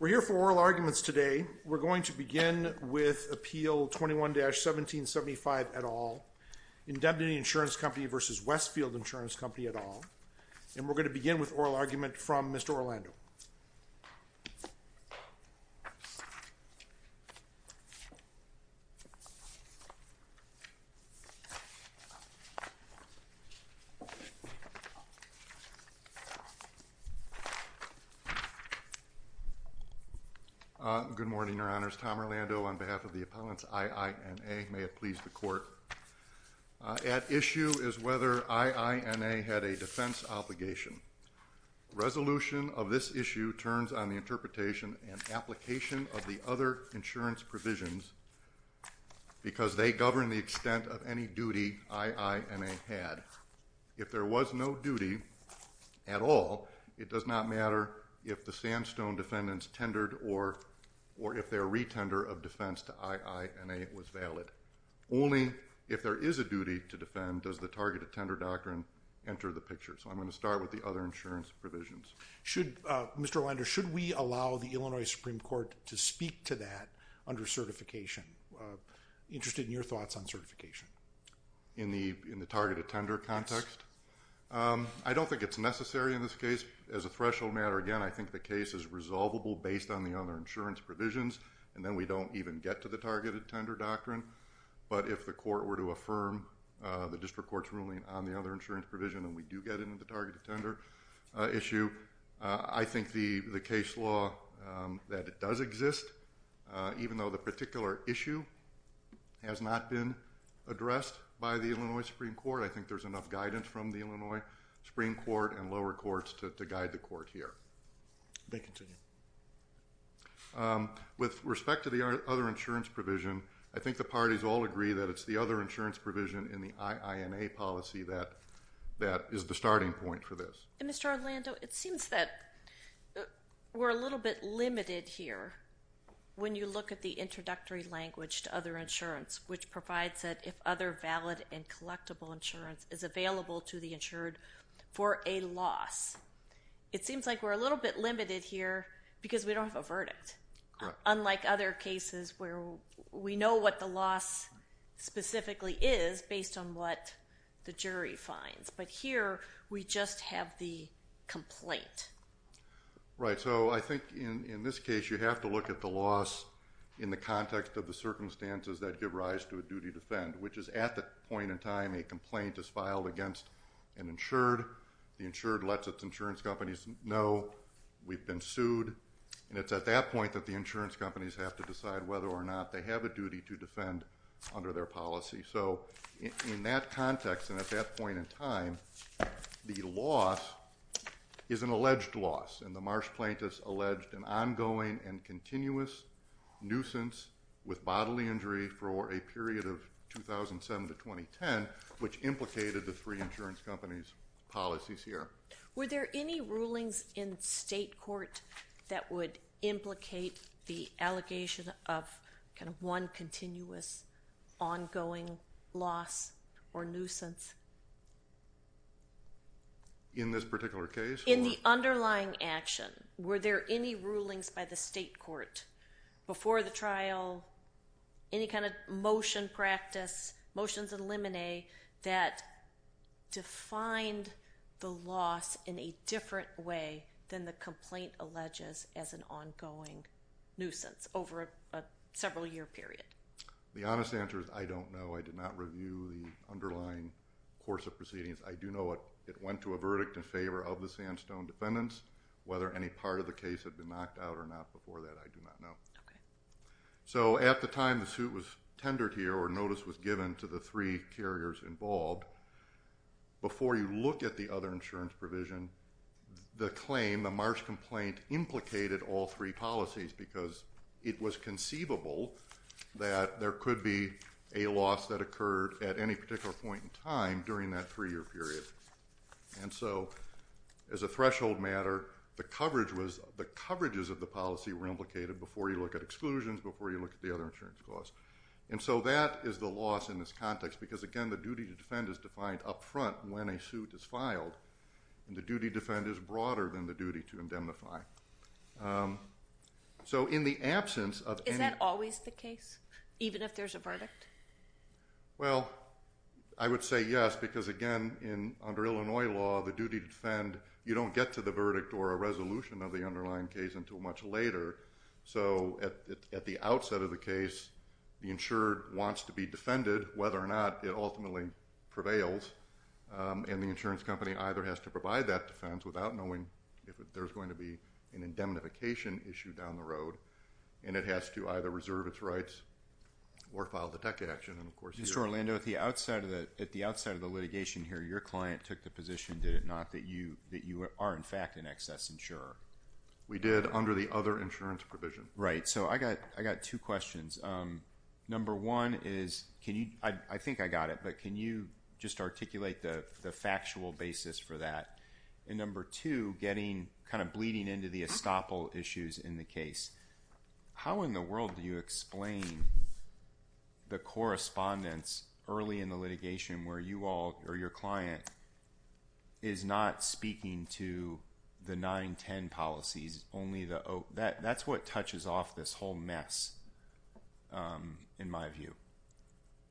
We're here for oral arguments today. We're going to begin with Appeal 21-1775 et al. Indemnity Insurance Company v. Westfield Insurance Company et al. And we're going to begin with oral argument from Mr. Orlando. Good morning, Your Honors. Tom Orlando on behalf of the appellants, IINA. May it please the Court. At issue is whether IINA had a defense obligation. Resolution of this issue turns on the interpretation and application of the other insurance provisions because they govern the extent of any duty IINA had. If there was no duty at all, it does not matter if the sandstone defendants tendered or if their retender of defense to IINA was valid. Only if there is a duty to defend does the Targeted Tender Doctrine enter the picture. So I'm going to start with the other insurance provisions. Mr. Orlando, should we allow the Illinois Supreme Court to speak to that under certification? Interested in your thoughts on certification. In the Targeted Tender context? I don't think it's necessary in this case. As a threshold matter, again, I think the case is resolvable based on the other insurance provisions, and then we don't even get to the Targeted Tender Doctrine. But if the court were to affirm the district court's ruling on the other insurance provision and we do get into the Targeted Tender issue, I think the case law that it does exist, even though the particular issue has not been addressed by the Illinois Supreme Court, I think there's enough guidance from the Illinois Supreme Court and lower courts to guide the court here. Thank you. With respect to the other insurance provision, I think the parties all agree that it's the other insurance provision in the IINA policy that is the starting point for this. Mr. Orlando, it seems that we're a little bit limited here when you look at the introductory language to other insurance, which provides that if other valid and collectible insurance is available to the insured for a loss. It seems like we're a little bit limited here because we don't have a verdict, unlike other cases where we know what the loss specifically is based on what the jury finds. But here we just have the complaint. Right. So I think in this case you have to look at the loss in the context of the circumstances that give rise to a duty to defend, which is at the point in time a complaint is filed against an insured, the insured lets its insurance companies know we've been sued, and it's at that point that the insurance companies have to decide whether or not they have a duty to defend under their policy. So in that context and at that point in time, the loss is an alleged loss, and the Marsh plaintiffs alleged an ongoing and continuous nuisance with bodily injury for a period of 2007 to 2010, which implicated the three insurance companies' policies here. Were there any rulings in state court that would implicate the allegation of kind of one continuous ongoing loss or nuisance? In this particular case? In the underlying action, were there any rulings by the state court before the trial, any kind of motion practice, motions in limine that defined the loss in a different way than the complaint alleges as an ongoing nuisance over a several-year period? The honest answer is I don't know. I did not review the underlying course of proceedings. I do know it went to a verdict in favor of the Sandstone defendants. Whether any part of the case had been knocked out or not before that, I do not know. Okay. So at the time the suit was tendered here or notice was given to the three carriers involved, before you look at the other insurance provision, the claim, the Marsh complaint, implicated all three policies because it was conceivable that there could be a loss that occurred at any particular point in time during that three-year period. And so as a threshold matter, the coverages of the policy were implicated before you look at exclusions, before you look at the other insurance costs. And so that is the loss in this context because, again, the duty to defend is defined up front when a suit is filed, and the duty to defend is broader than the duty to indemnify. So in the absence of any – Is that always the case, even if there's a verdict? Well, I would say yes because, again, under Illinois law, the duty to defend, you don't get to the verdict or a resolution of the underlying case until much later. So at the outset of the case, the insured wants to be defended, whether or not it ultimately prevails, and the insurance company either has to provide that defense without knowing if there's going to be an indemnification issue down the road, and it has to either reserve its rights or file the tech action. Mr. Orlando, at the outside of the litigation here, your client took the position, did it not, that you are, in fact, an excess insurer? We did under the other insurance provision. Right. So I got two questions. Number one is can you – I think I got it, but can you just articulate the factual basis for that? And number two, kind of bleeding into the estoppel issues in the case, where you all or your client is not speaking to the 9-10 policies, only the – that's what touches off this whole mess, in my view.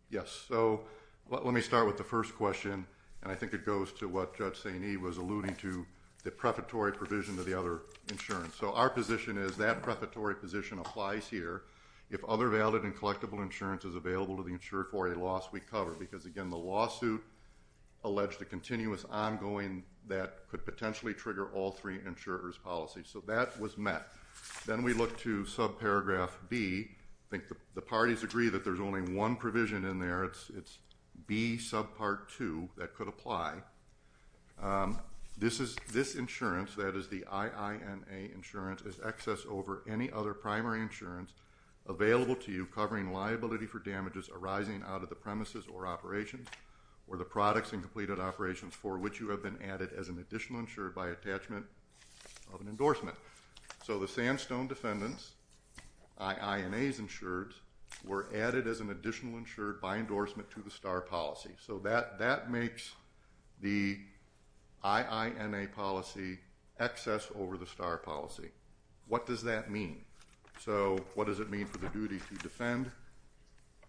Yes. So let me start with the first question, and I think it goes to what Judge Saini was alluding to, the prefatory provision of the other insurance. So our position is that prefatory position applies here. If other valid and collectible insurance is available to the insured for a loss, we cover, because, again, the lawsuit alleged a continuous ongoing that could potentially trigger all three insurers' policies. So that was met. Then we look to subparagraph B. I think the parties agree that there's only one provision in there. It's B subpart 2 that could apply. This insurance, that is the IINA insurance, is excess over any other primary insurance available to you covering liability for damages arising out of the premises or operations or the products and completed operations for which you have been added as an additional insured by attachment of an endorsement. So the sandstone defendants, IINAs insured, were added as an additional insured by endorsement to the STAR policy. So that makes the IINA policy excess over the STAR policy. What does that mean? So what does it mean for the duty to defend?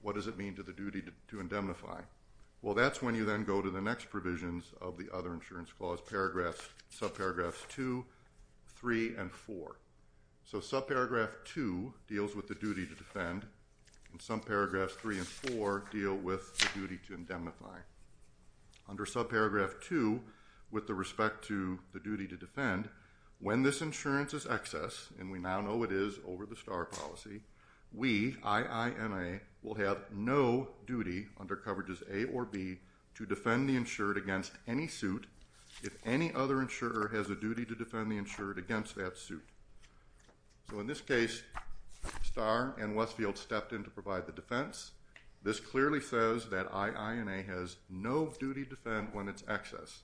What does it mean to the duty to indemnify? Well, that's when you then go to the next provisions of the other insurance clause, paragraphs, subparagraphs 2, 3, and 4. So subparagraph 2 deals with the duty to defend, and subparagraphs 3 and 4 deal with the duty to indemnify. Under subparagraph 2, with the respect to the duty to defend, when this insurance is excess, and we now know it is over the STAR policy, we, IINA, will have no duty under coverages A or B to defend the insured against any suit if any other insurer has a duty to defend the insured against that suit. So in this case, STAR and Westfield stepped in to provide the defense. This clearly says that IINA has no duty to defend when it's excess.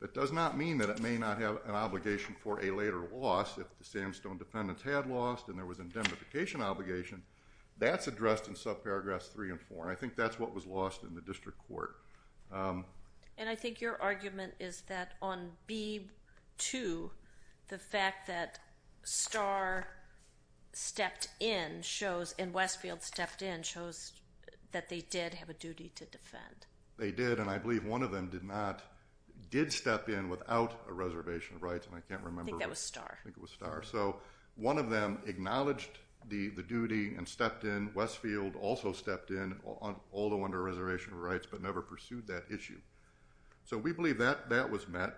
That does not mean that it may not have an obligation for a later loss. If the Sandstone defendants had lost and there was an indemnification obligation, that's addressed in subparagraphs 3 and 4, and I think that's what was lost in the district court. And I think your argument is that on B2, the fact that STAR stepped in shows, and Westfield stepped in, they did, and I believe one of them did not, did step in without a reservation of rights, and I can't remember. I think that was STAR. I think it was STAR. So one of them acknowledged the duty and stepped in. Westfield also stepped in, although under a reservation of rights, but never pursued that issue. So we believe that that was met.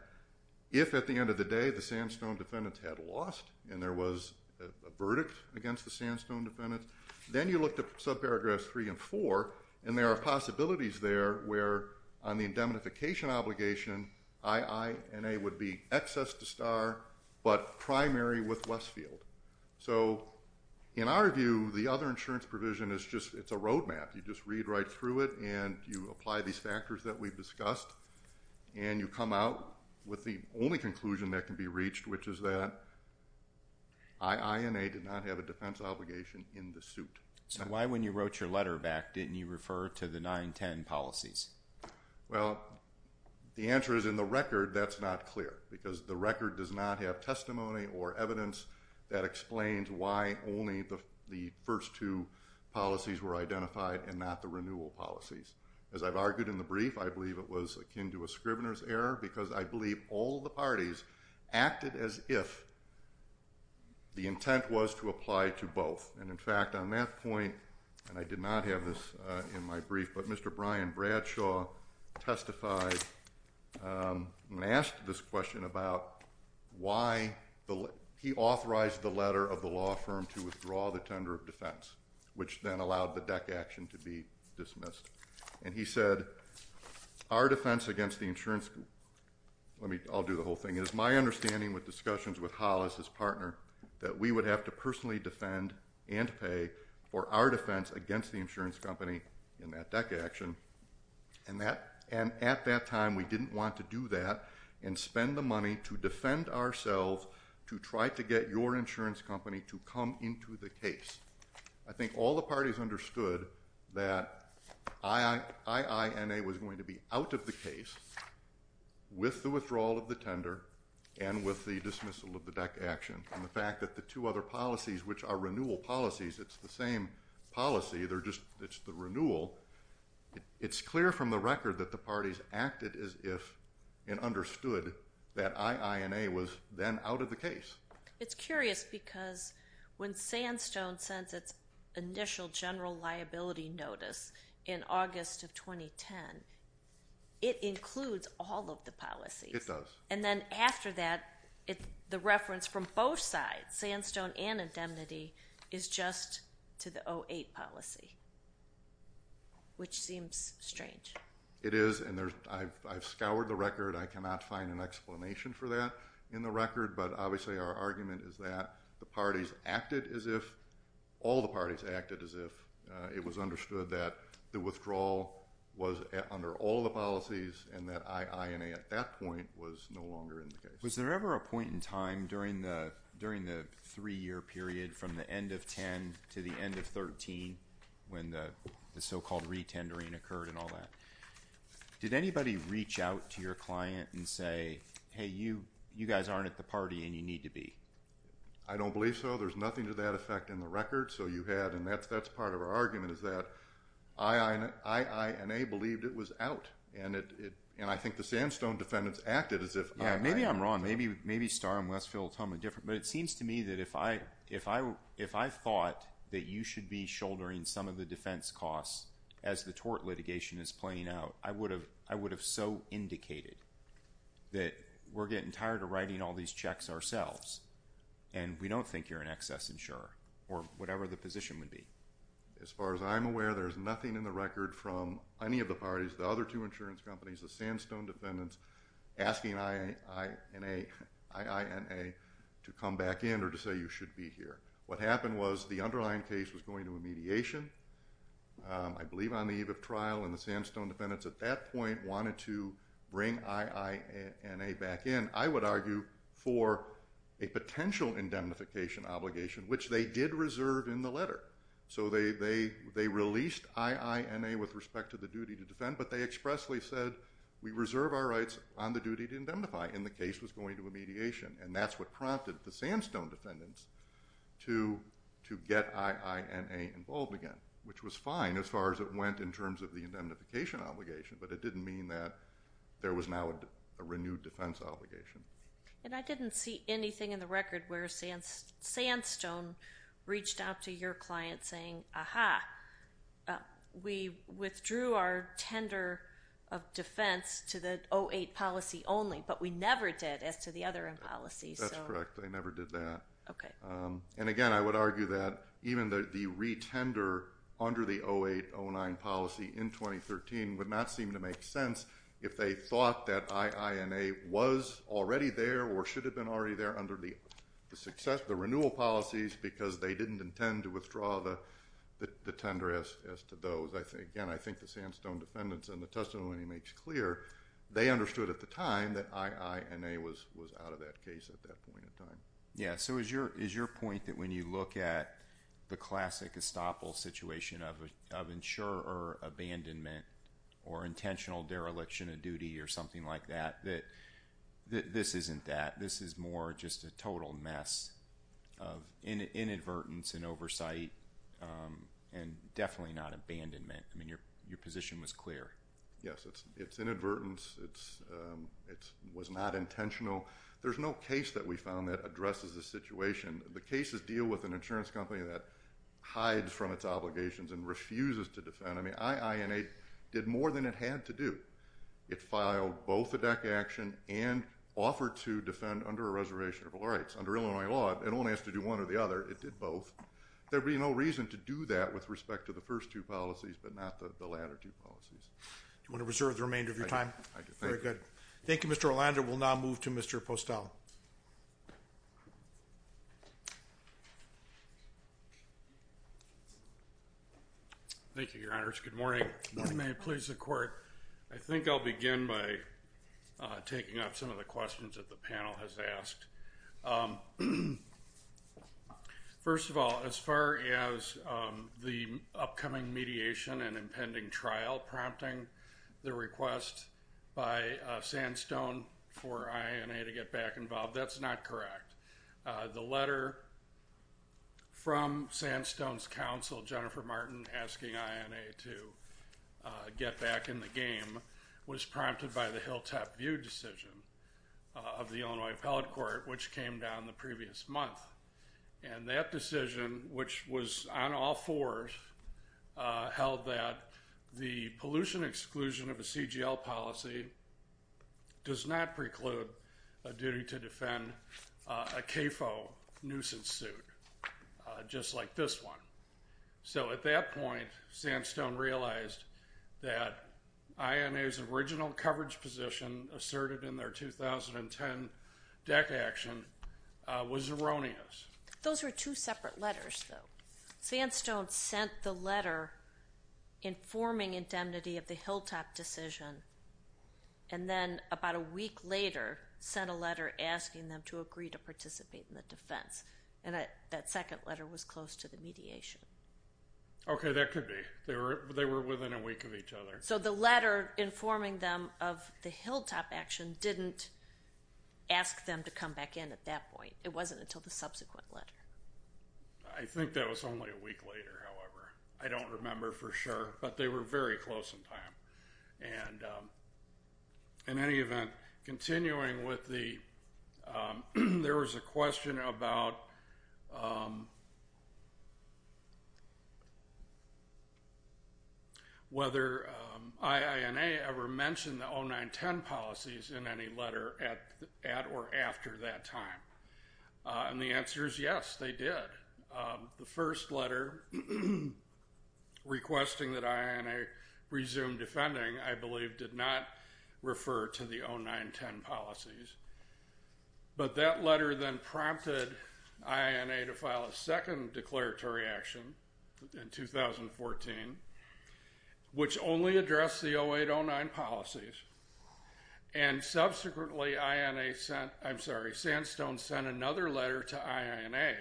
If at the end of the day the Sandstone defendants had lost and there was a verdict against the Sandstone defendants, then you look to subparagraphs 3 and 4, and there are possibilities there where on the indemnification obligation, IINA would be excess to STAR but primary with Westfield. So in our view, the other insurance provision is just, it's a roadmap. You just read right through it, and you apply these factors that we've discussed, and you come out with the only conclusion that can be reached, which is that IINA did not have a defense obligation in the suit. So why, when you wrote your letter back, didn't you refer to the 910 policies? Well, the answer is in the record that's not clear because the record does not have testimony or evidence that explains why only the first two policies were identified and not the renewal policies. As I've argued in the brief, I believe it was akin to a scrivener's error because I believe all the parties acted as if the intent was to apply to both. And, in fact, on that point, and I did not have this in my brief, but Mr. Brian Bradshaw testified and asked this question about why he authorized the letter of the law firm to withdraw the tender of defense, which then allowed the DEC action to be dismissed. And he said, our defense against the insurance company, I'll do the whole thing, is my understanding with discussions with Hollis, his partner, that we would have to personally defend and pay for our defense against the insurance company in that DEC action. And at that time, we didn't want to do that and spend the money to defend ourselves to try to get your insurance company to come into the case. I think all the parties understood that IINA was going to be out of the case with the withdrawal of the tender and with the dismissal of the DEC action. And the fact that the two other policies, which are renewal policies, it's the same policy, it's the renewal, it's clear from the record that the parties acted as if and understood that IINA was then out of the case. It's curious because when Sandstone sends its initial general liability notice in August of 2010, it includes all of the policies. It does. And then after that, the reference from both sides, Sandstone and indemnity, is just to the 08 policy, which seems strange. It is, and I've scoured the record. I cannot find an explanation for that in the record, but obviously our argument is that the parties acted as if, all the parties acted as if it was understood that the withdrawal was under all the policies and that IINA at that point was no longer in the case. Was there ever a point in time during the three-year period from the end of 10 to the end of 13 when the so-called re-tendering occurred and all that? Did anybody reach out to your client and say, hey, you guys aren't at the party and you need to be? I don't believe so. There's nothing to that effect in the record. So you had, and that's part of our argument, is that IINA believed it was out, and I think the Sandstone defendants acted as if IINA was out. Maybe I'm wrong. Maybe Star and Westfield will tell me different. But it seems to me that if I thought that you should be shouldering some of the defense costs as the tort litigation is playing out, I would have so indicated that we're getting tired of writing all these checks ourselves and we don't think you're an excess insurer or whatever the position would be. As far as I'm aware, there's nothing in the record from any of the parties, the other two insurance companies, the Sandstone defendants, asking IINA to come back in or to say you should be here. What happened was the underlying case was going to a mediation, I believe on the eve of trial, and the Sandstone defendants at that point wanted to bring IINA back in, I would argue, for a potential indemnification obligation, which they did reserve in the letter. So they released IINA with respect to the duty to defend, but they expressly said we reserve our rights on the duty to indemnify, and the case was going to a mediation. And that's what prompted the Sandstone defendants to get IINA involved again, which was fine as far as it went in terms of the indemnification obligation, but it didn't mean that there was now a renewed defense obligation. And I didn't see anything in the record where Sandstone reached out to your client saying, ah-ha, we withdrew our tender of defense to the 08 policy only, but we never did as to the other policies. That's correct. They never did that. Okay. And, again, I would argue that even the retender under the 08-09 policy in 2013 would not seem to make sense if they thought that IINA was already there or should have been already there under the renewal policies because they didn't intend to withdraw the tender as to those. Again, I think the Sandstone defendants in the testimony makes clear they understood at the time that IINA was out of that case at that point in time. Yeah. So is your point that when you look at the classic estoppel situation of insurer abandonment or intentional dereliction of duty or something like that, that this isn't that, this is more just a total mess of inadvertence and oversight and definitely not abandonment? I mean, your position was clear. Yes. It's inadvertence. It was not intentional. There's no case that we found that addresses the situation. The cases deal with an insurance company that hides from its obligations and refuses to defend. I mean, IINA did more than it had to do. It filed both a deck action and offered to defend under a reservation of rights. Under Illinois law, it only has to do one or the other. It did both. There would be no reason to do that with respect to the first two policies but not the latter two policies. Do you want to reserve the remainder of your time? I do. Very good. Thank you, Mr. Orlando. We'll now move to Mr. Postel. Thank you, Your Honors. Good morning. Good morning. May it please the Court, I think I'll begin by taking up some of the questions that the panel has asked. First of all, as far as the upcoming mediation and impending trial prompting the request by Sandstone for IINA to get back involved, that's not correct. The letter from Sandstone's counsel, Jennifer Martin, asking IINA to get back in the game was prompted by the Hilltop View decision of the Illinois Appellate Court, which came down the previous month. And that decision, which was on all fours, held that the pollution exclusion of a CGL policy does not preclude a duty to defend a CAFO nuisance suit, just like this one. So at that point, Sandstone realized that IINA's original coverage position asserted in their 2010 deck action was erroneous. Those were two separate letters, though. Sandstone sent the letter informing indemnity of the Hilltop decision, and then about a week later sent a letter asking them to agree to participate in the defense. And that second letter was close to the mediation. Okay, that could be. They were within a week of each other. So the letter informing them of the Hilltop action didn't ask them to come back in at that point. It wasn't until the subsequent letter. I think that was only a week later, however. I don't remember for sure, but they were very close in time. In any event, continuing with the, there was a question about whether IINA ever mentioned the 09-10 policies in any letter at or after that time. And the answer is yes, they did. The first letter requesting that IINA resume defending, I believe, did not refer to the 09-10 policies. But that letter then prompted IINA to file a second declaratory action in 2014, which only addressed the 08-09 policies. And subsequently, INA sent, I'm sorry, Sandstone sent another letter to IINA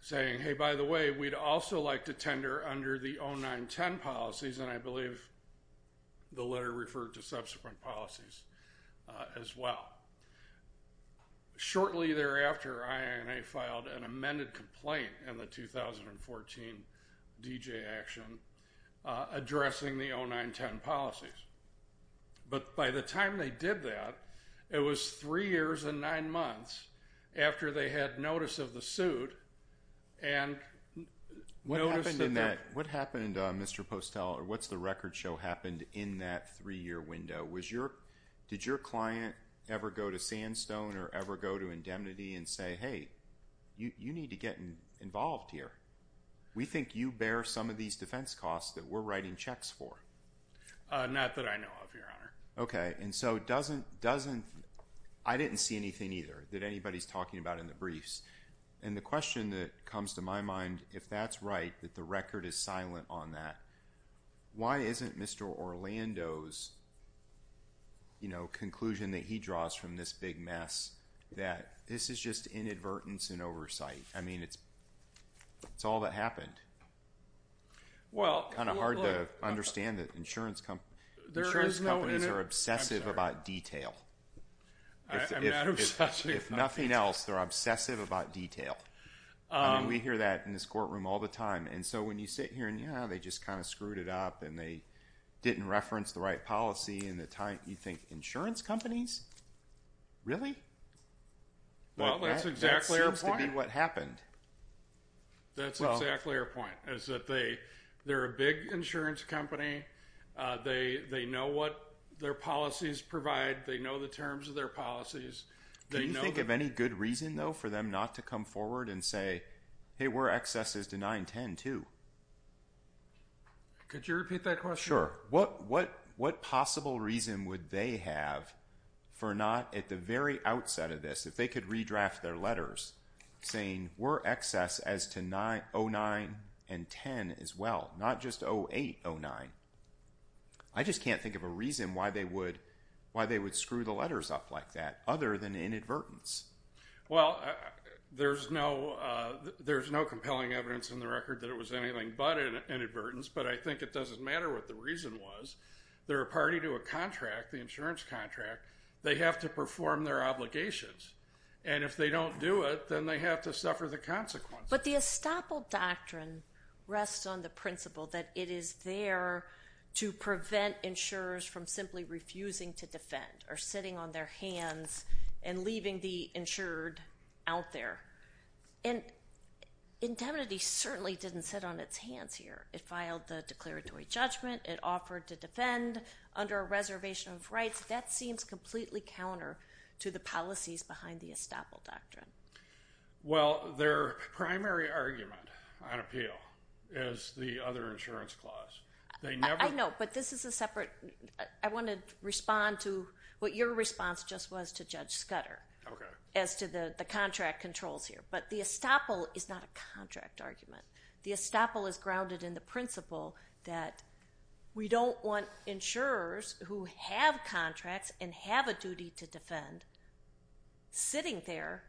saying, hey, by the way, we'd also like to tender under the 09-10 policies. And I believe the letter referred to subsequent policies as well. Shortly thereafter, IINA filed an amended complaint in the 2014 D.J. action addressing the 09-10 policies. But by the time they did that, it was three years and nine months after they had notice of the suit and noticed that they're- What happened in that, what happened, Mr. Postel, or what's the record show happened in that three-year window? Did your client ever go to Sandstone or ever go to indemnity and say, hey, you need to get involved here? We think you bear some of these defense costs that we're writing checks for. Not that I know of, Your Honor. Okay. And so doesn't- I didn't see anything either that anybody's talking about in the briefs. And the question that comes to my mind, if that's right, that the record is silent on that, why isn't Mr. Orlando's, you know, conclusion that he draws from this big mess that this is just inadvertence in oversight? I mean, it's all that happened. Well- Kind of hard to understand that insurance companies are obsessive about detail. I'm not obsessive about detail. If nothing else, they're obsessive about detail. I mean, we hear that in this courtroom all the time. And so when you sit here and, yeah, they just kind of screwed it up and they didn't reference the right policy in the time, you think, insurance companies? Really? Well, that's exactly our point. That seems to be what happened. That's exactly our point, is that they're a big insurance company. They know what their policies provide. They know the terms of their policies. Do you think of any good reason, though, for them not to come forward and say, hey, we're excesses to 910 too? Could you repeat that question? Sure. What possible reason would they have for not, at the very outset of this, if they could redraft their letters, saying we're excesses to 09 and 10 as well, not just 08, 09? I just can't think of a reason why they would screw the letters up like that, other than inadvertence. Well, there's no compelling evidence in the record that it was anything but inadvertence. But I think it doesn't matter what the reason was. They're a party to a contract, the insurance contract. They have to perform their obligations. And if they don't do it, then they have to suffer the consequences. But the estoppel doctrine rests on the principle that it is there to prevent insurers from simply refusing to defend or sitting on their hands and leaving the insured out there. And indemnity certainly didn't sit on its hands here. It filed the declaratory judgment. It offered to defend under a reservation of rights. That seems completely counter to the policies behind the estoppel doctrine. Well, their primary argument on appeal is the other insurance clause. I know, but this is a separate. I want to respond to what your response just was to Judge Scudder as to the contract controls here. But the estoppel is not a contract argument. The estoppel is grounded in the principle that we don't want insurers who have contracts and have a duty to defend sitting there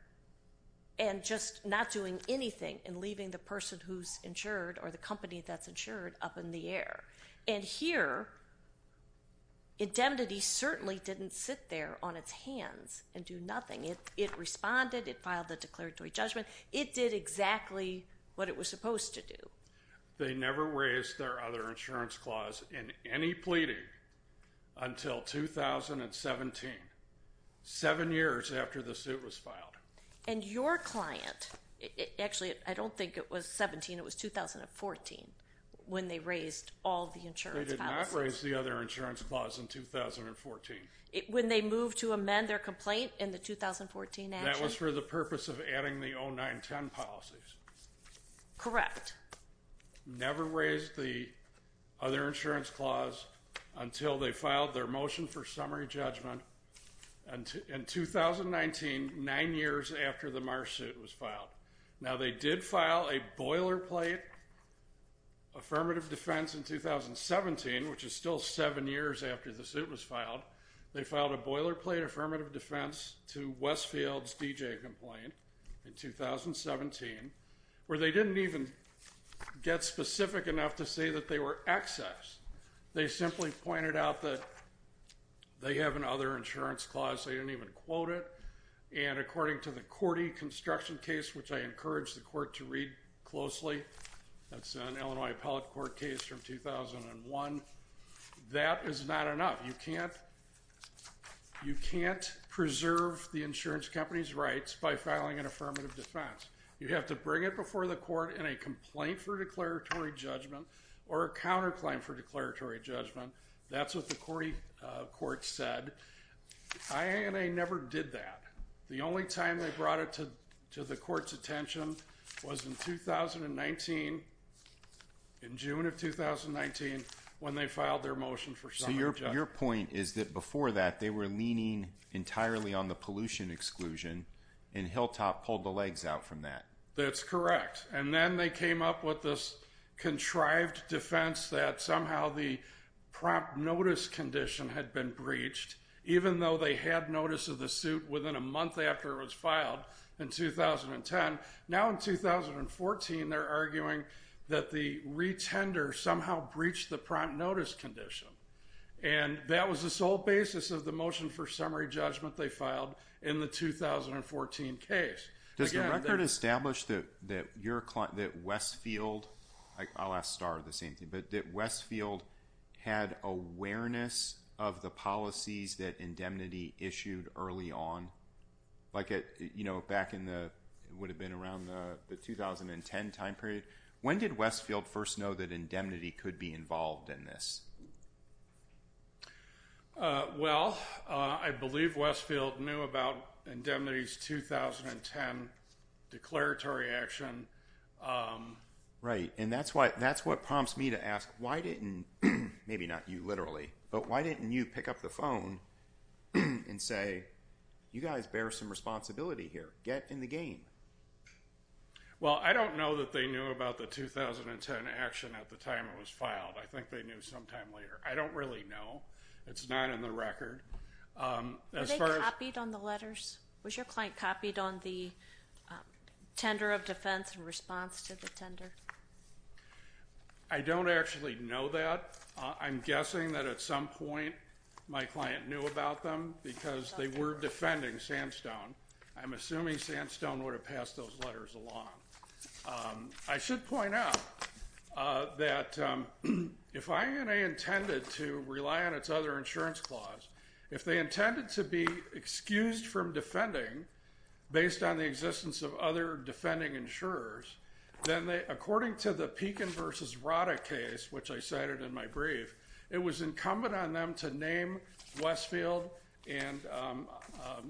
and just not doing anything and leaving the person who's insured or the company that's insured up in the air. And here, indemnity certainly didn't sit there on its hands and do nothing. It responded. It filed the declaratory judgment. It did exactly what it was supposed to do. They never raised their other insurance clause in any pleading until 2017, seven years after the suit was filed. And your client, actually, I don't think it was 17. It was 2014 when they raised all the insurance clauses. They did not raise the other insurance clause in 2014. When they moved to amend their complaint in the 2014 action? That was for the purpose of adding the 0-9-10 policies. Correct. Never raised the other insurance clause until they filed their motion for summary judgment in 2019, nine years after the Marsh suit was filed. Now, they did file a boilerplate affirmative defense in 2017, which is still seven years after the suit was filed. They filed a boilerplate affirmative defense to Westfield's DJ complaint in 2017, where they didn't even get specific enough to say that they were excess. They simply pointed out that they have another insurance clause. They didn't even quote it. And according to the Cordy construction case, which I encourage the court to read closely, that's an Illinois appellate court case from 2001, that is not enough. You can't preserve the insurance company's rights by filing an affirmative defense. You have to bring it before the court in a complaint for declaratory judgment or a counterclaim for declaratory judgment. That's what the Cordy court said. IANA never did that. The only time they brought it to the court's attention was in 2019, in June of 2019, when they filed their motion for summary judgment. So your point is that before that, they were leaning entirely on the pollution exclusion, and Hilltop pulled the legs out from that. That's correct. And then they came up with this contrived defense that somehow the prompt notice condition had been breached, even though they had notice of the suit within a month after it was filed in 2010. Now in 2014, they're arguing that the retender somehow breached the prompt notice condition. And that was the sole basis of the motion for summary judgment they filed in the 2014 case. Does the record establish that Westfield had awareness of the policies that Indemnity issued early on? Like back in what would have been around the 2010 time period. When did Westfield first know that Indemnity could be involved in this? Well, I believe Westfield knew about Indemnity's 2010 declaratory action. Right. And that's what prompts me to ask, why didn't, maybe not you literally, but why didn't you pick up the phone and say, you guys bear some responsibility here. Get in the game. Well, I don't know that they knew about the 2010 action at the time it was filed. I think they knew sometime later. I don't really know. It's not in the record. Were they copied on the letters? Was your client copied on the tender of defense in response to the tender? I don't actually know that. I'm guessing that at some point my client knew about them because they were defending Sandstone. I'm assuming Sandstone would have passed those letters along. I should point out that if INA intended to rely on its other insurance clause, if they intended to be excused from defending based on the existence of other defending insurers, then according to the Pekin v. Rada case, which I cited in my brief, it was incumbent on them to name Westfield and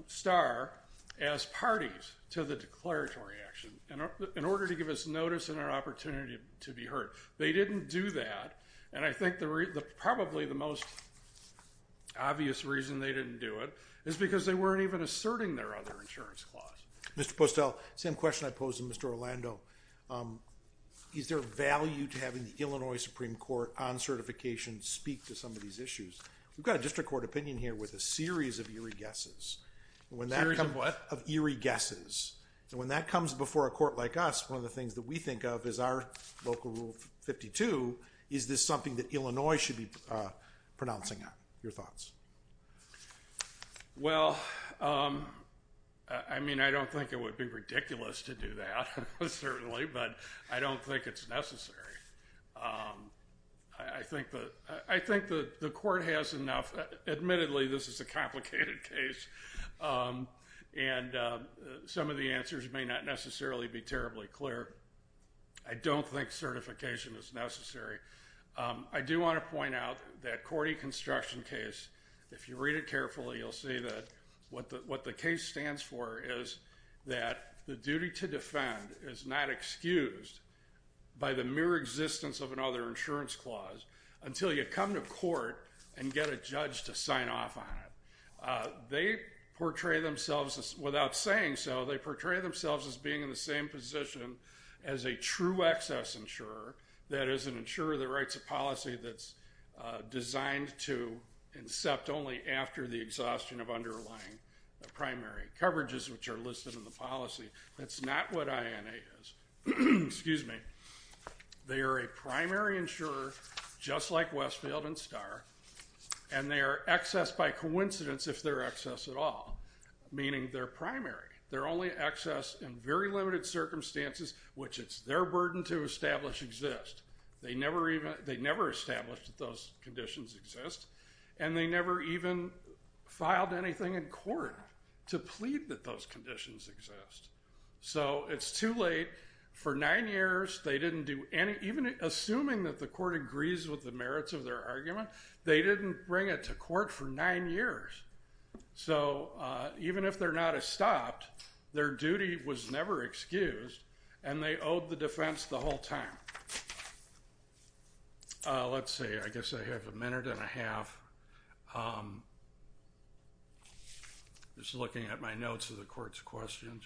Starr as parties to the declaratory action in order to give us notice and an opportunity to be heard. They didn't do that. And I think probably the most obvious reason they didn't do it is because they weren't even asserting their other insurance clause. Mr. Postel, same question I posed to Mr. Orlando. Is there value to having the Illinois Supreme Court on certification speak to some of these issues? We've got a district court opinion here with a series of eerie guesses. A series of what? Of eerie guesses. And when that comes before a court like us, one of the things that we think of is our local rule 52, is this something that Illinois should be pronouncing on? Your thoughts? Well, I mean, I don't think it would be ridiculous to do that, certainly, but I don't think it's necessary. I think the court has enough. Admittedly, this is a complicated case, and some of the answers may not necessarily be terribly clear. I don't think certification is necessary. I do want to point out that Cordy construction case, if you read it carefully, you'll see that what the case stands for is that the duty to defend is not excused by the mere existence of another insurance clause until you come to court and get a judge to sign off on it. Without saying so, they portray themselves as being in the same position as a true excess insurer, that is, an insurer that writes a policy that's designed to incept only after the exhaustion of underlying primary coverages, which are listed in the policy. That's not what INA is. They are a primary insurer, just like Westfield and Starr, and they are excess by coincidence if they're excess at all, meaning they're primary. They're only excess in very limited circumstances, which it's their burden to establish exist. They never established that those conditions exist, and they never even filed anything in court to plead that those conditions exist. So it's too late. For nine years, they didn't do any, even assuming that the court agrees with the merits of their argument, they didn't bring it to court for nine years. So even if they're not estopped, their duty was never excused, and they owed the defense the whole time. Let's see. I'm just looking at my notes of the court's questions.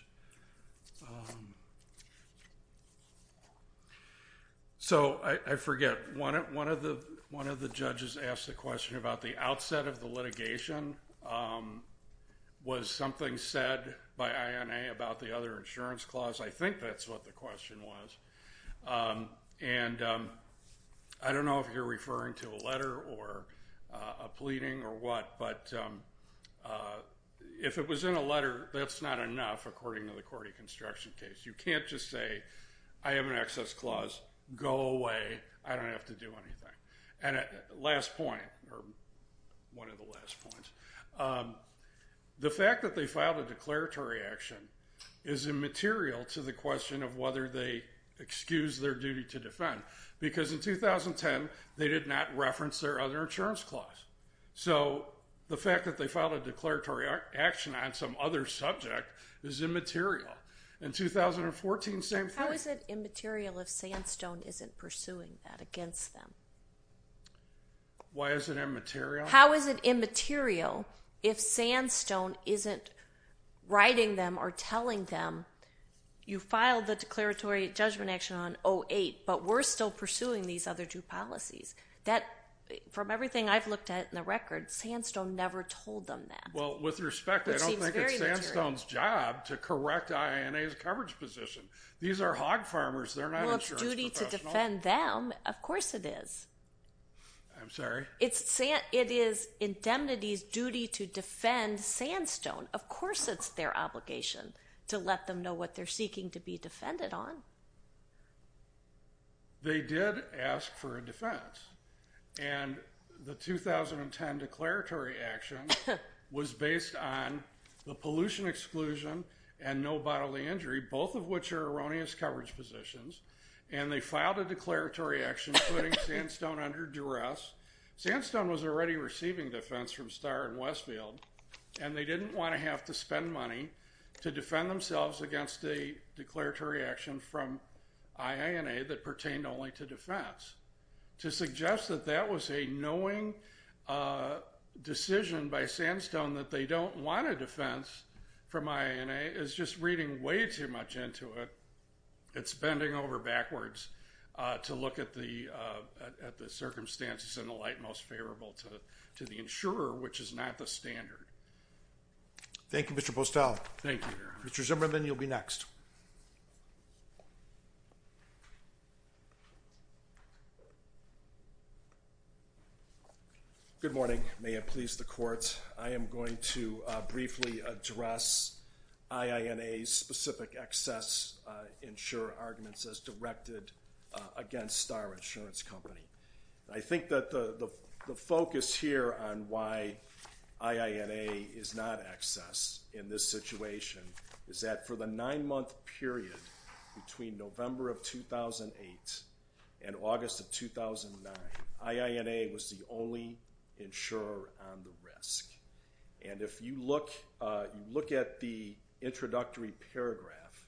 So I forget. One of the judges asked a question about the outset of the litigation. Was something said by INA about the other insurance clause? I think that's what the question was. And I don't know if you're referring to a letter or a pleading or what, but if it was in a letter, that's not enough, according to the court of construction case. You can't just say, I have an excess clause. Go away. I don't have to do anything. Last point, or one of the last points. The fact that they filed a declaratory action is immaterial to the question of whether they excused their duty to defend. Because in 2010, they did not reference their other insurance clause. So the fact that they filed a declaratory action on some other subject is immaterial. In 2014, same thing. How is it immaterial if Sandstone isn't pursuing that against them? Why is it immaterial? How is it immaterial if Sandstone isn't writing them or telling them, you filed the declaratory judgment action on 08, but we're still pursuing these other two policies? From everything I've looked at in the record, Sandstone never told them that. Well, with respect, I don't think it's Sandstone's job to correct INA's coverage position. These are hog farmers. They're not insurance professionals. Well, it's duty to defend them. Of course it is. I'm sorry? It is indemnity's duty to defend Sandstone. Of course it's their obligation to let them know what they're seeking to be defended on. They did ask for a defense. And the 2010 declaratory action was based on the pollution exclusion and no bodily injury, both of which are erroneous coverage positions. And they filed a declaratory action putting Sandstone under duress. Sandstone was already receiving defense from Starr and Westfield, and they didn't want to have to spend money to defend themselves against a declaratory action from INA that pertained only to defense. To suggest that that was a knowing decision by Sandstone that they don't want a defense from INA is just reading way too much into it. It's bending over backwards to look at the circumstances in the light most favorable to the insurer, which is not the standard. Thank you, Mr. Postel. Thank you, Your Honor. Mr. Zimmerman, you'll be next. Good morning. May it please the Court, I am going to briefly address INA's specific excess insurer arguments as directed against Starr Insurance Company. I think that the focus here on why INA is not excess in this situation is that for the nine-month period between November of 2008 and August of 2009, INA was the only insurer on the risk. And if you look at the introductory paragraph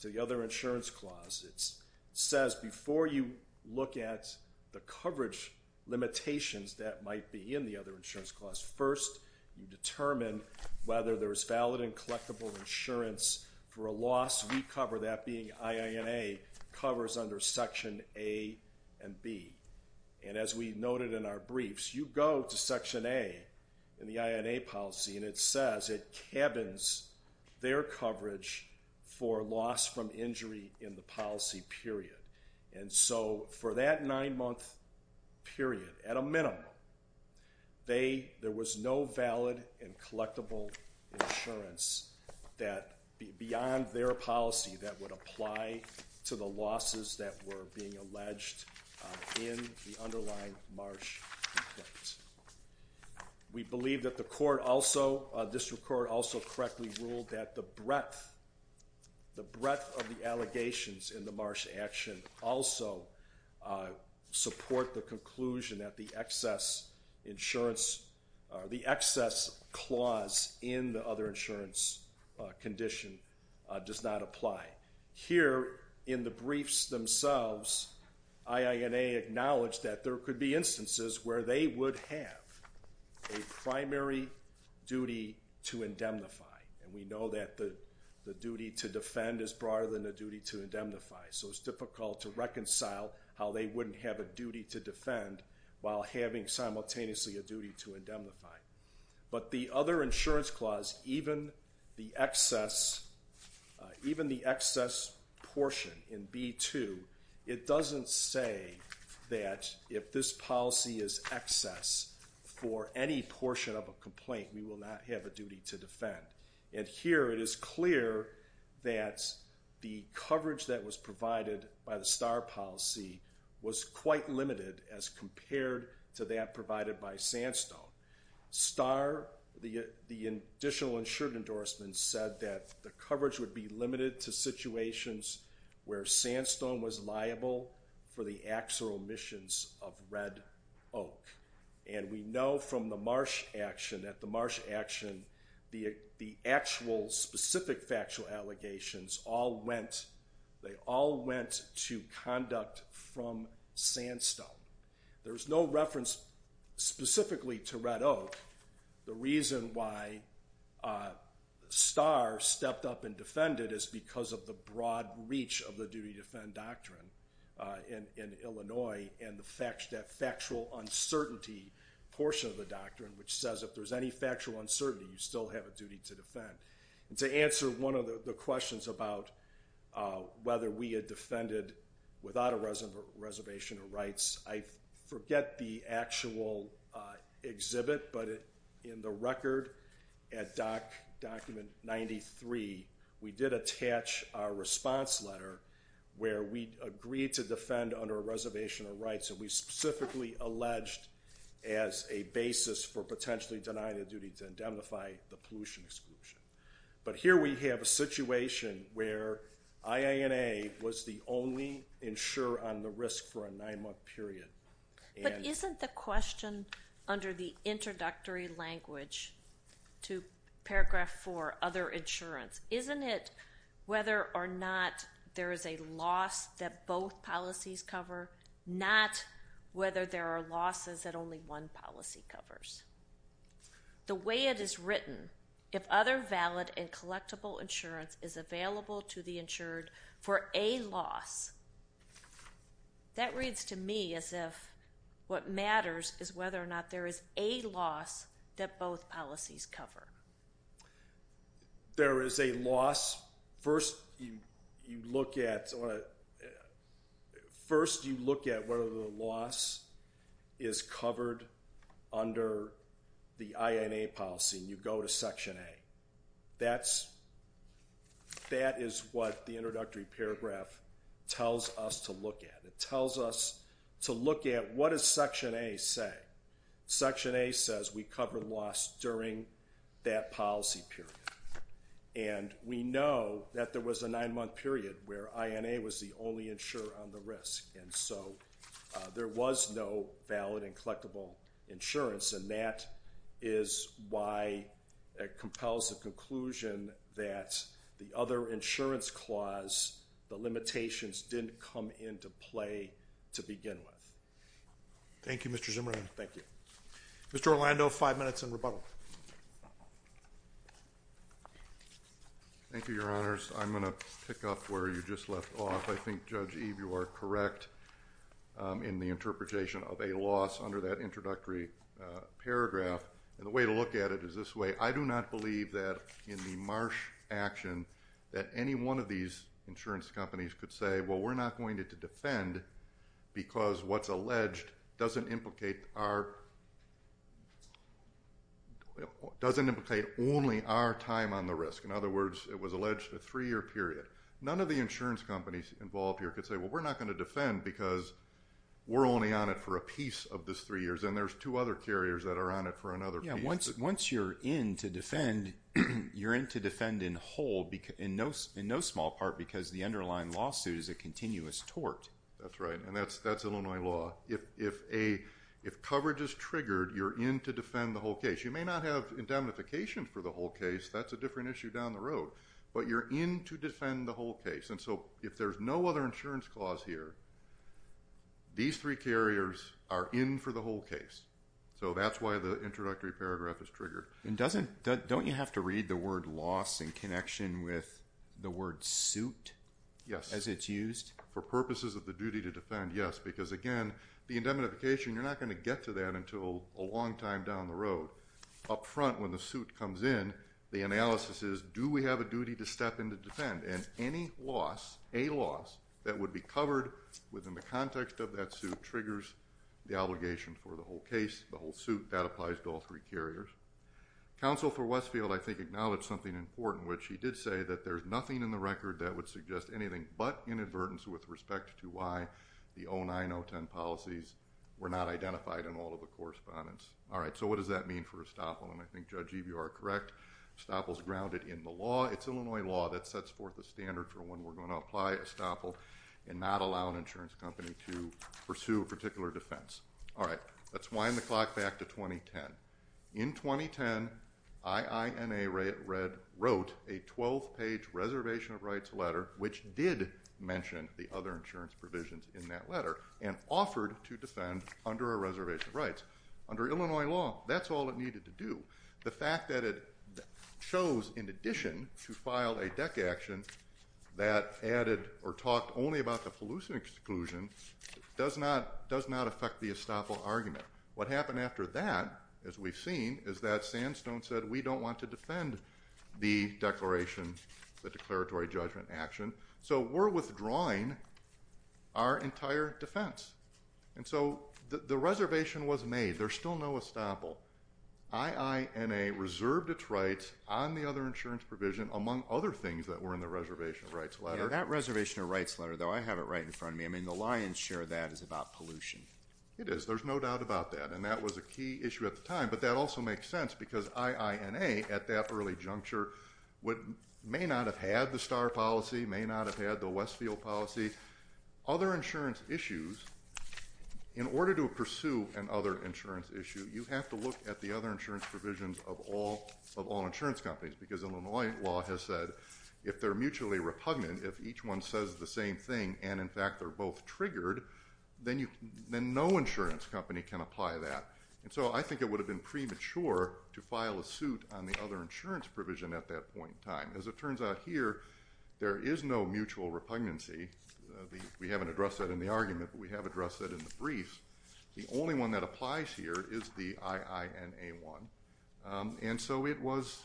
to the other insurance clause, it says before you look at the coverage limitations that might be in the other insurance clause, first you determine whether there is valid and collectible insurance for a loss. We cover that being INA covers under Section A and B. And as we noted in our briefs, you go to Section A in the INA policy and it says it cabins their coverage for loss from injury in the policy period. And so for that nine-month period, at a minimum, there was no valid and collectible insurance beyond their policy that would apply to the losses that were being alleged in the underlying Marsh complaint. We believe that the District Court also correctly ruled that the breadth of the allegations in the Marsh action also support the conclusion that the excess clause in the other insurance condition does not apply. Here in the briefs themselves, INA acknowledged that there could be instances where they would have a primary duty to indemnify. And we know that the duty to defend is broader than the duty to indemnify. So it's difficult to reconcile how they wouldn't have a duty to defend while having simultaneously a duty to indemnify. But the other insurance clause, even the excess portion in B2, it doesn't say that if this policy is excess for any portion of a complaint, we will not have a duty to defend. And here it is clear that the coverage that was provided by the STAR policy was quite limited as compared to that provided by Sandstone. STAR, the additional insurance endorsement, said that the coverage would be limited to situations where Sandstone was liable for the actual omissions of Red Oak. And we know from the Marsh action, at the Marsh action, the actual specific factual allegations all went to conduct from Sandstone. There's no reference specifically to Red Oak. The reason why STAR stepped up and defended is because of the broad reach of the duty to defend doctrine in Illinois and the factual uncertainty portion of the doctrine, which says if there's any factual uncertainty, you still have a duty to defend. And to answer one of the questions about whether we had defended without a reservation of rights, I forget the actual exhibit, but in the record at document 93, we did attach our response letter where we agreed to defend under a reservation of rights, and we specifically alleged as a basis for potentially denying a duty to indemnify the pollution exclusion. But here we have a situation where IANA was the only insurer on the risk for a nine-month period. But isn't the question under the introductory language to paragraph four, other insurance, isn't it whether or not there is a loss that both policies cover, not whether there are losses that only one policy covers? The way it is written, if other valid and collectible insurance is available to the insured for a loss, that reads to me as if what matters is whether or not there is a loss that both policies cover. There is a loss. First, you look at whether the loss is covered under the IANA policy, and you go to section A. That is what the introductory paragraph tells us to look at. It tells us to look at what does section A say. Section A says we cover loss during that policy period. And we know that there was a nine-month period where IANA was the only insurer on the risk, and so there was no valid and collectible insurance, and that is why it compels the conclusion that the other insurance clause, the limitations, didn't come into play to begin with. Thank you, Mr. Zimmerman. Thank you. Mr. Orlando, five minutes in rebuttal. Thank you, Your Honors. I'm going to pick up where you just left off. I think, Judge Eve, you are correct in the interpretation of a loss under that introductory paragraph. And the way to look at it is this way. I do not believe that in the Marsh action that any one of these insurance companies could say, well, we're not going to defend because what's alleged doesn't implicate only our time on the risk. In other words, it was alleged a three-year period. None of the insurance companies involved here could say, well, we're not going to defend because we're only on it for a piece of this three years, and there's two other carriers that are on it for another piece. Once you're in to defend, you're in to defend in whole in no small part because the underlying lawsuit is a continuous tort. That's right, and that's Illinois law. If coverage is triggered, you're in to defend the whole case. You may not have indemnification for the whole case. That's a different issue down the road. But you're in to defend the whole case. And so if there's no other insurance clause here, these three carriers are in for the whole case. So that's why the introductory paragraph is triggered. And don't you have to read the word loss in connection with the word suit? Yes. As it's used? For purposes of the duty to defend, yes, because, again, the indemnification, you're not going to get to that until a long time down the road. Up front, when the suit comes in, the analysis is do we have a duty to step in to defend? And any loss, a loss, that would be covered within the context of that suit triggers the obligation for the whole case, the whole suit. That applies to all three carriers. Counsel for Westfield, I think, acknowledged something important, which he did say that there's nothing in the record that would suggest anything but inadvertence with respect to why the 09010 policies were not identified in all of the correspondence. All right, so what does that mean for Estoppel? And I think Judge Evie, you are correct. Estoppel's grounded in the law. It's Illinois law that sets forth a standard for when we're going to apply Estoppel and not allow an insurance company to pursue a particular defense. All right, let's wind the clock back to 2010. In 2010, IINA wrote a 12-page reservation of rights letter, which did mention the other insurance provisions in that letter, and offered to defend under a reservation of rights. Under Illinois law, that's all it needed to do. The fact that it chose, in addition, to file a deck action that added or talked only about the pollution exclusion does not affect the Estoppel argument. What happened after that, as we've seen, is that Sandstone said we don't want to defend the declaration, the declaratory judgment action, so we're withdrawing our entire defense. And so the reservation was made. There's still no Estoppel. IINA reserved its rights on the other insurance provision, among other things that were in the reservation of rights letter. Yeah, that reservation of rights letter, though, I have it right in front of me. I mean, the lion's share of that is about pollution. It is. There's no doubt about that, and that was a key issue at the time. But that also makes sense because IINA, at that early juncture, may not have had the STAR policy, may not have had the Westfield policy. Other insurance issues, in order to pursue an other insurance issue, you have to look at the other insurance provisions of all insurance companies because Illinois law has said if they're mutually repugnant, if each one says the same thing and, in fact, they're both triggered, then no insurance company can apply that. And so I think it would have been premature to file a suit on the other insurance provision at that point in time. As it turns out here, there is no mutual repugnancy. We haven't addressed that in the argument, but we have addressed that in the briefs. The only one that applies here is the IINA one, and so it was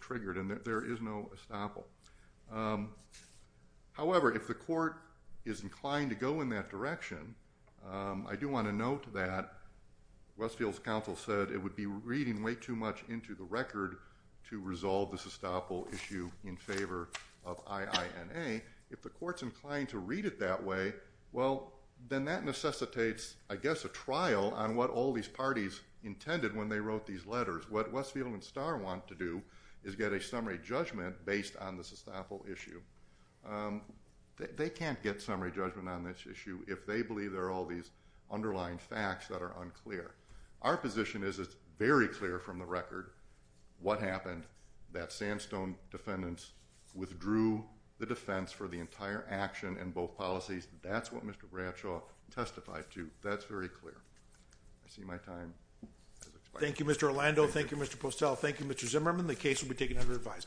triggered, and there is no Estoppel. However, if the court is inclined to go in that direction, I do want to note that Westfield's counsel said it would be reading way too much into the record to resolve the Estoppel issue in favor of IINA. If the court's inclined to read it that way, well, then that necessitates, I guess, a trial on what all these parties intended when they wrote these letters. What Westfield and STAR want to do is get a summary judgment based on the Estoppel issue. They can't get summary judgment on this issue if they believe there are all these underlying facts that are unclear. Our position is it's very clear from the record what happened, that Sandstone defendants withdrew the defense for the entire action and both policies. That's what Mr. Bradshaw testified to. That's very clear. I see my time has expired. Thank you, Mr. Orlando. Thank you, Mr. Postel. Thank you, Mr. Zimmerman. The case will be taken under advisement.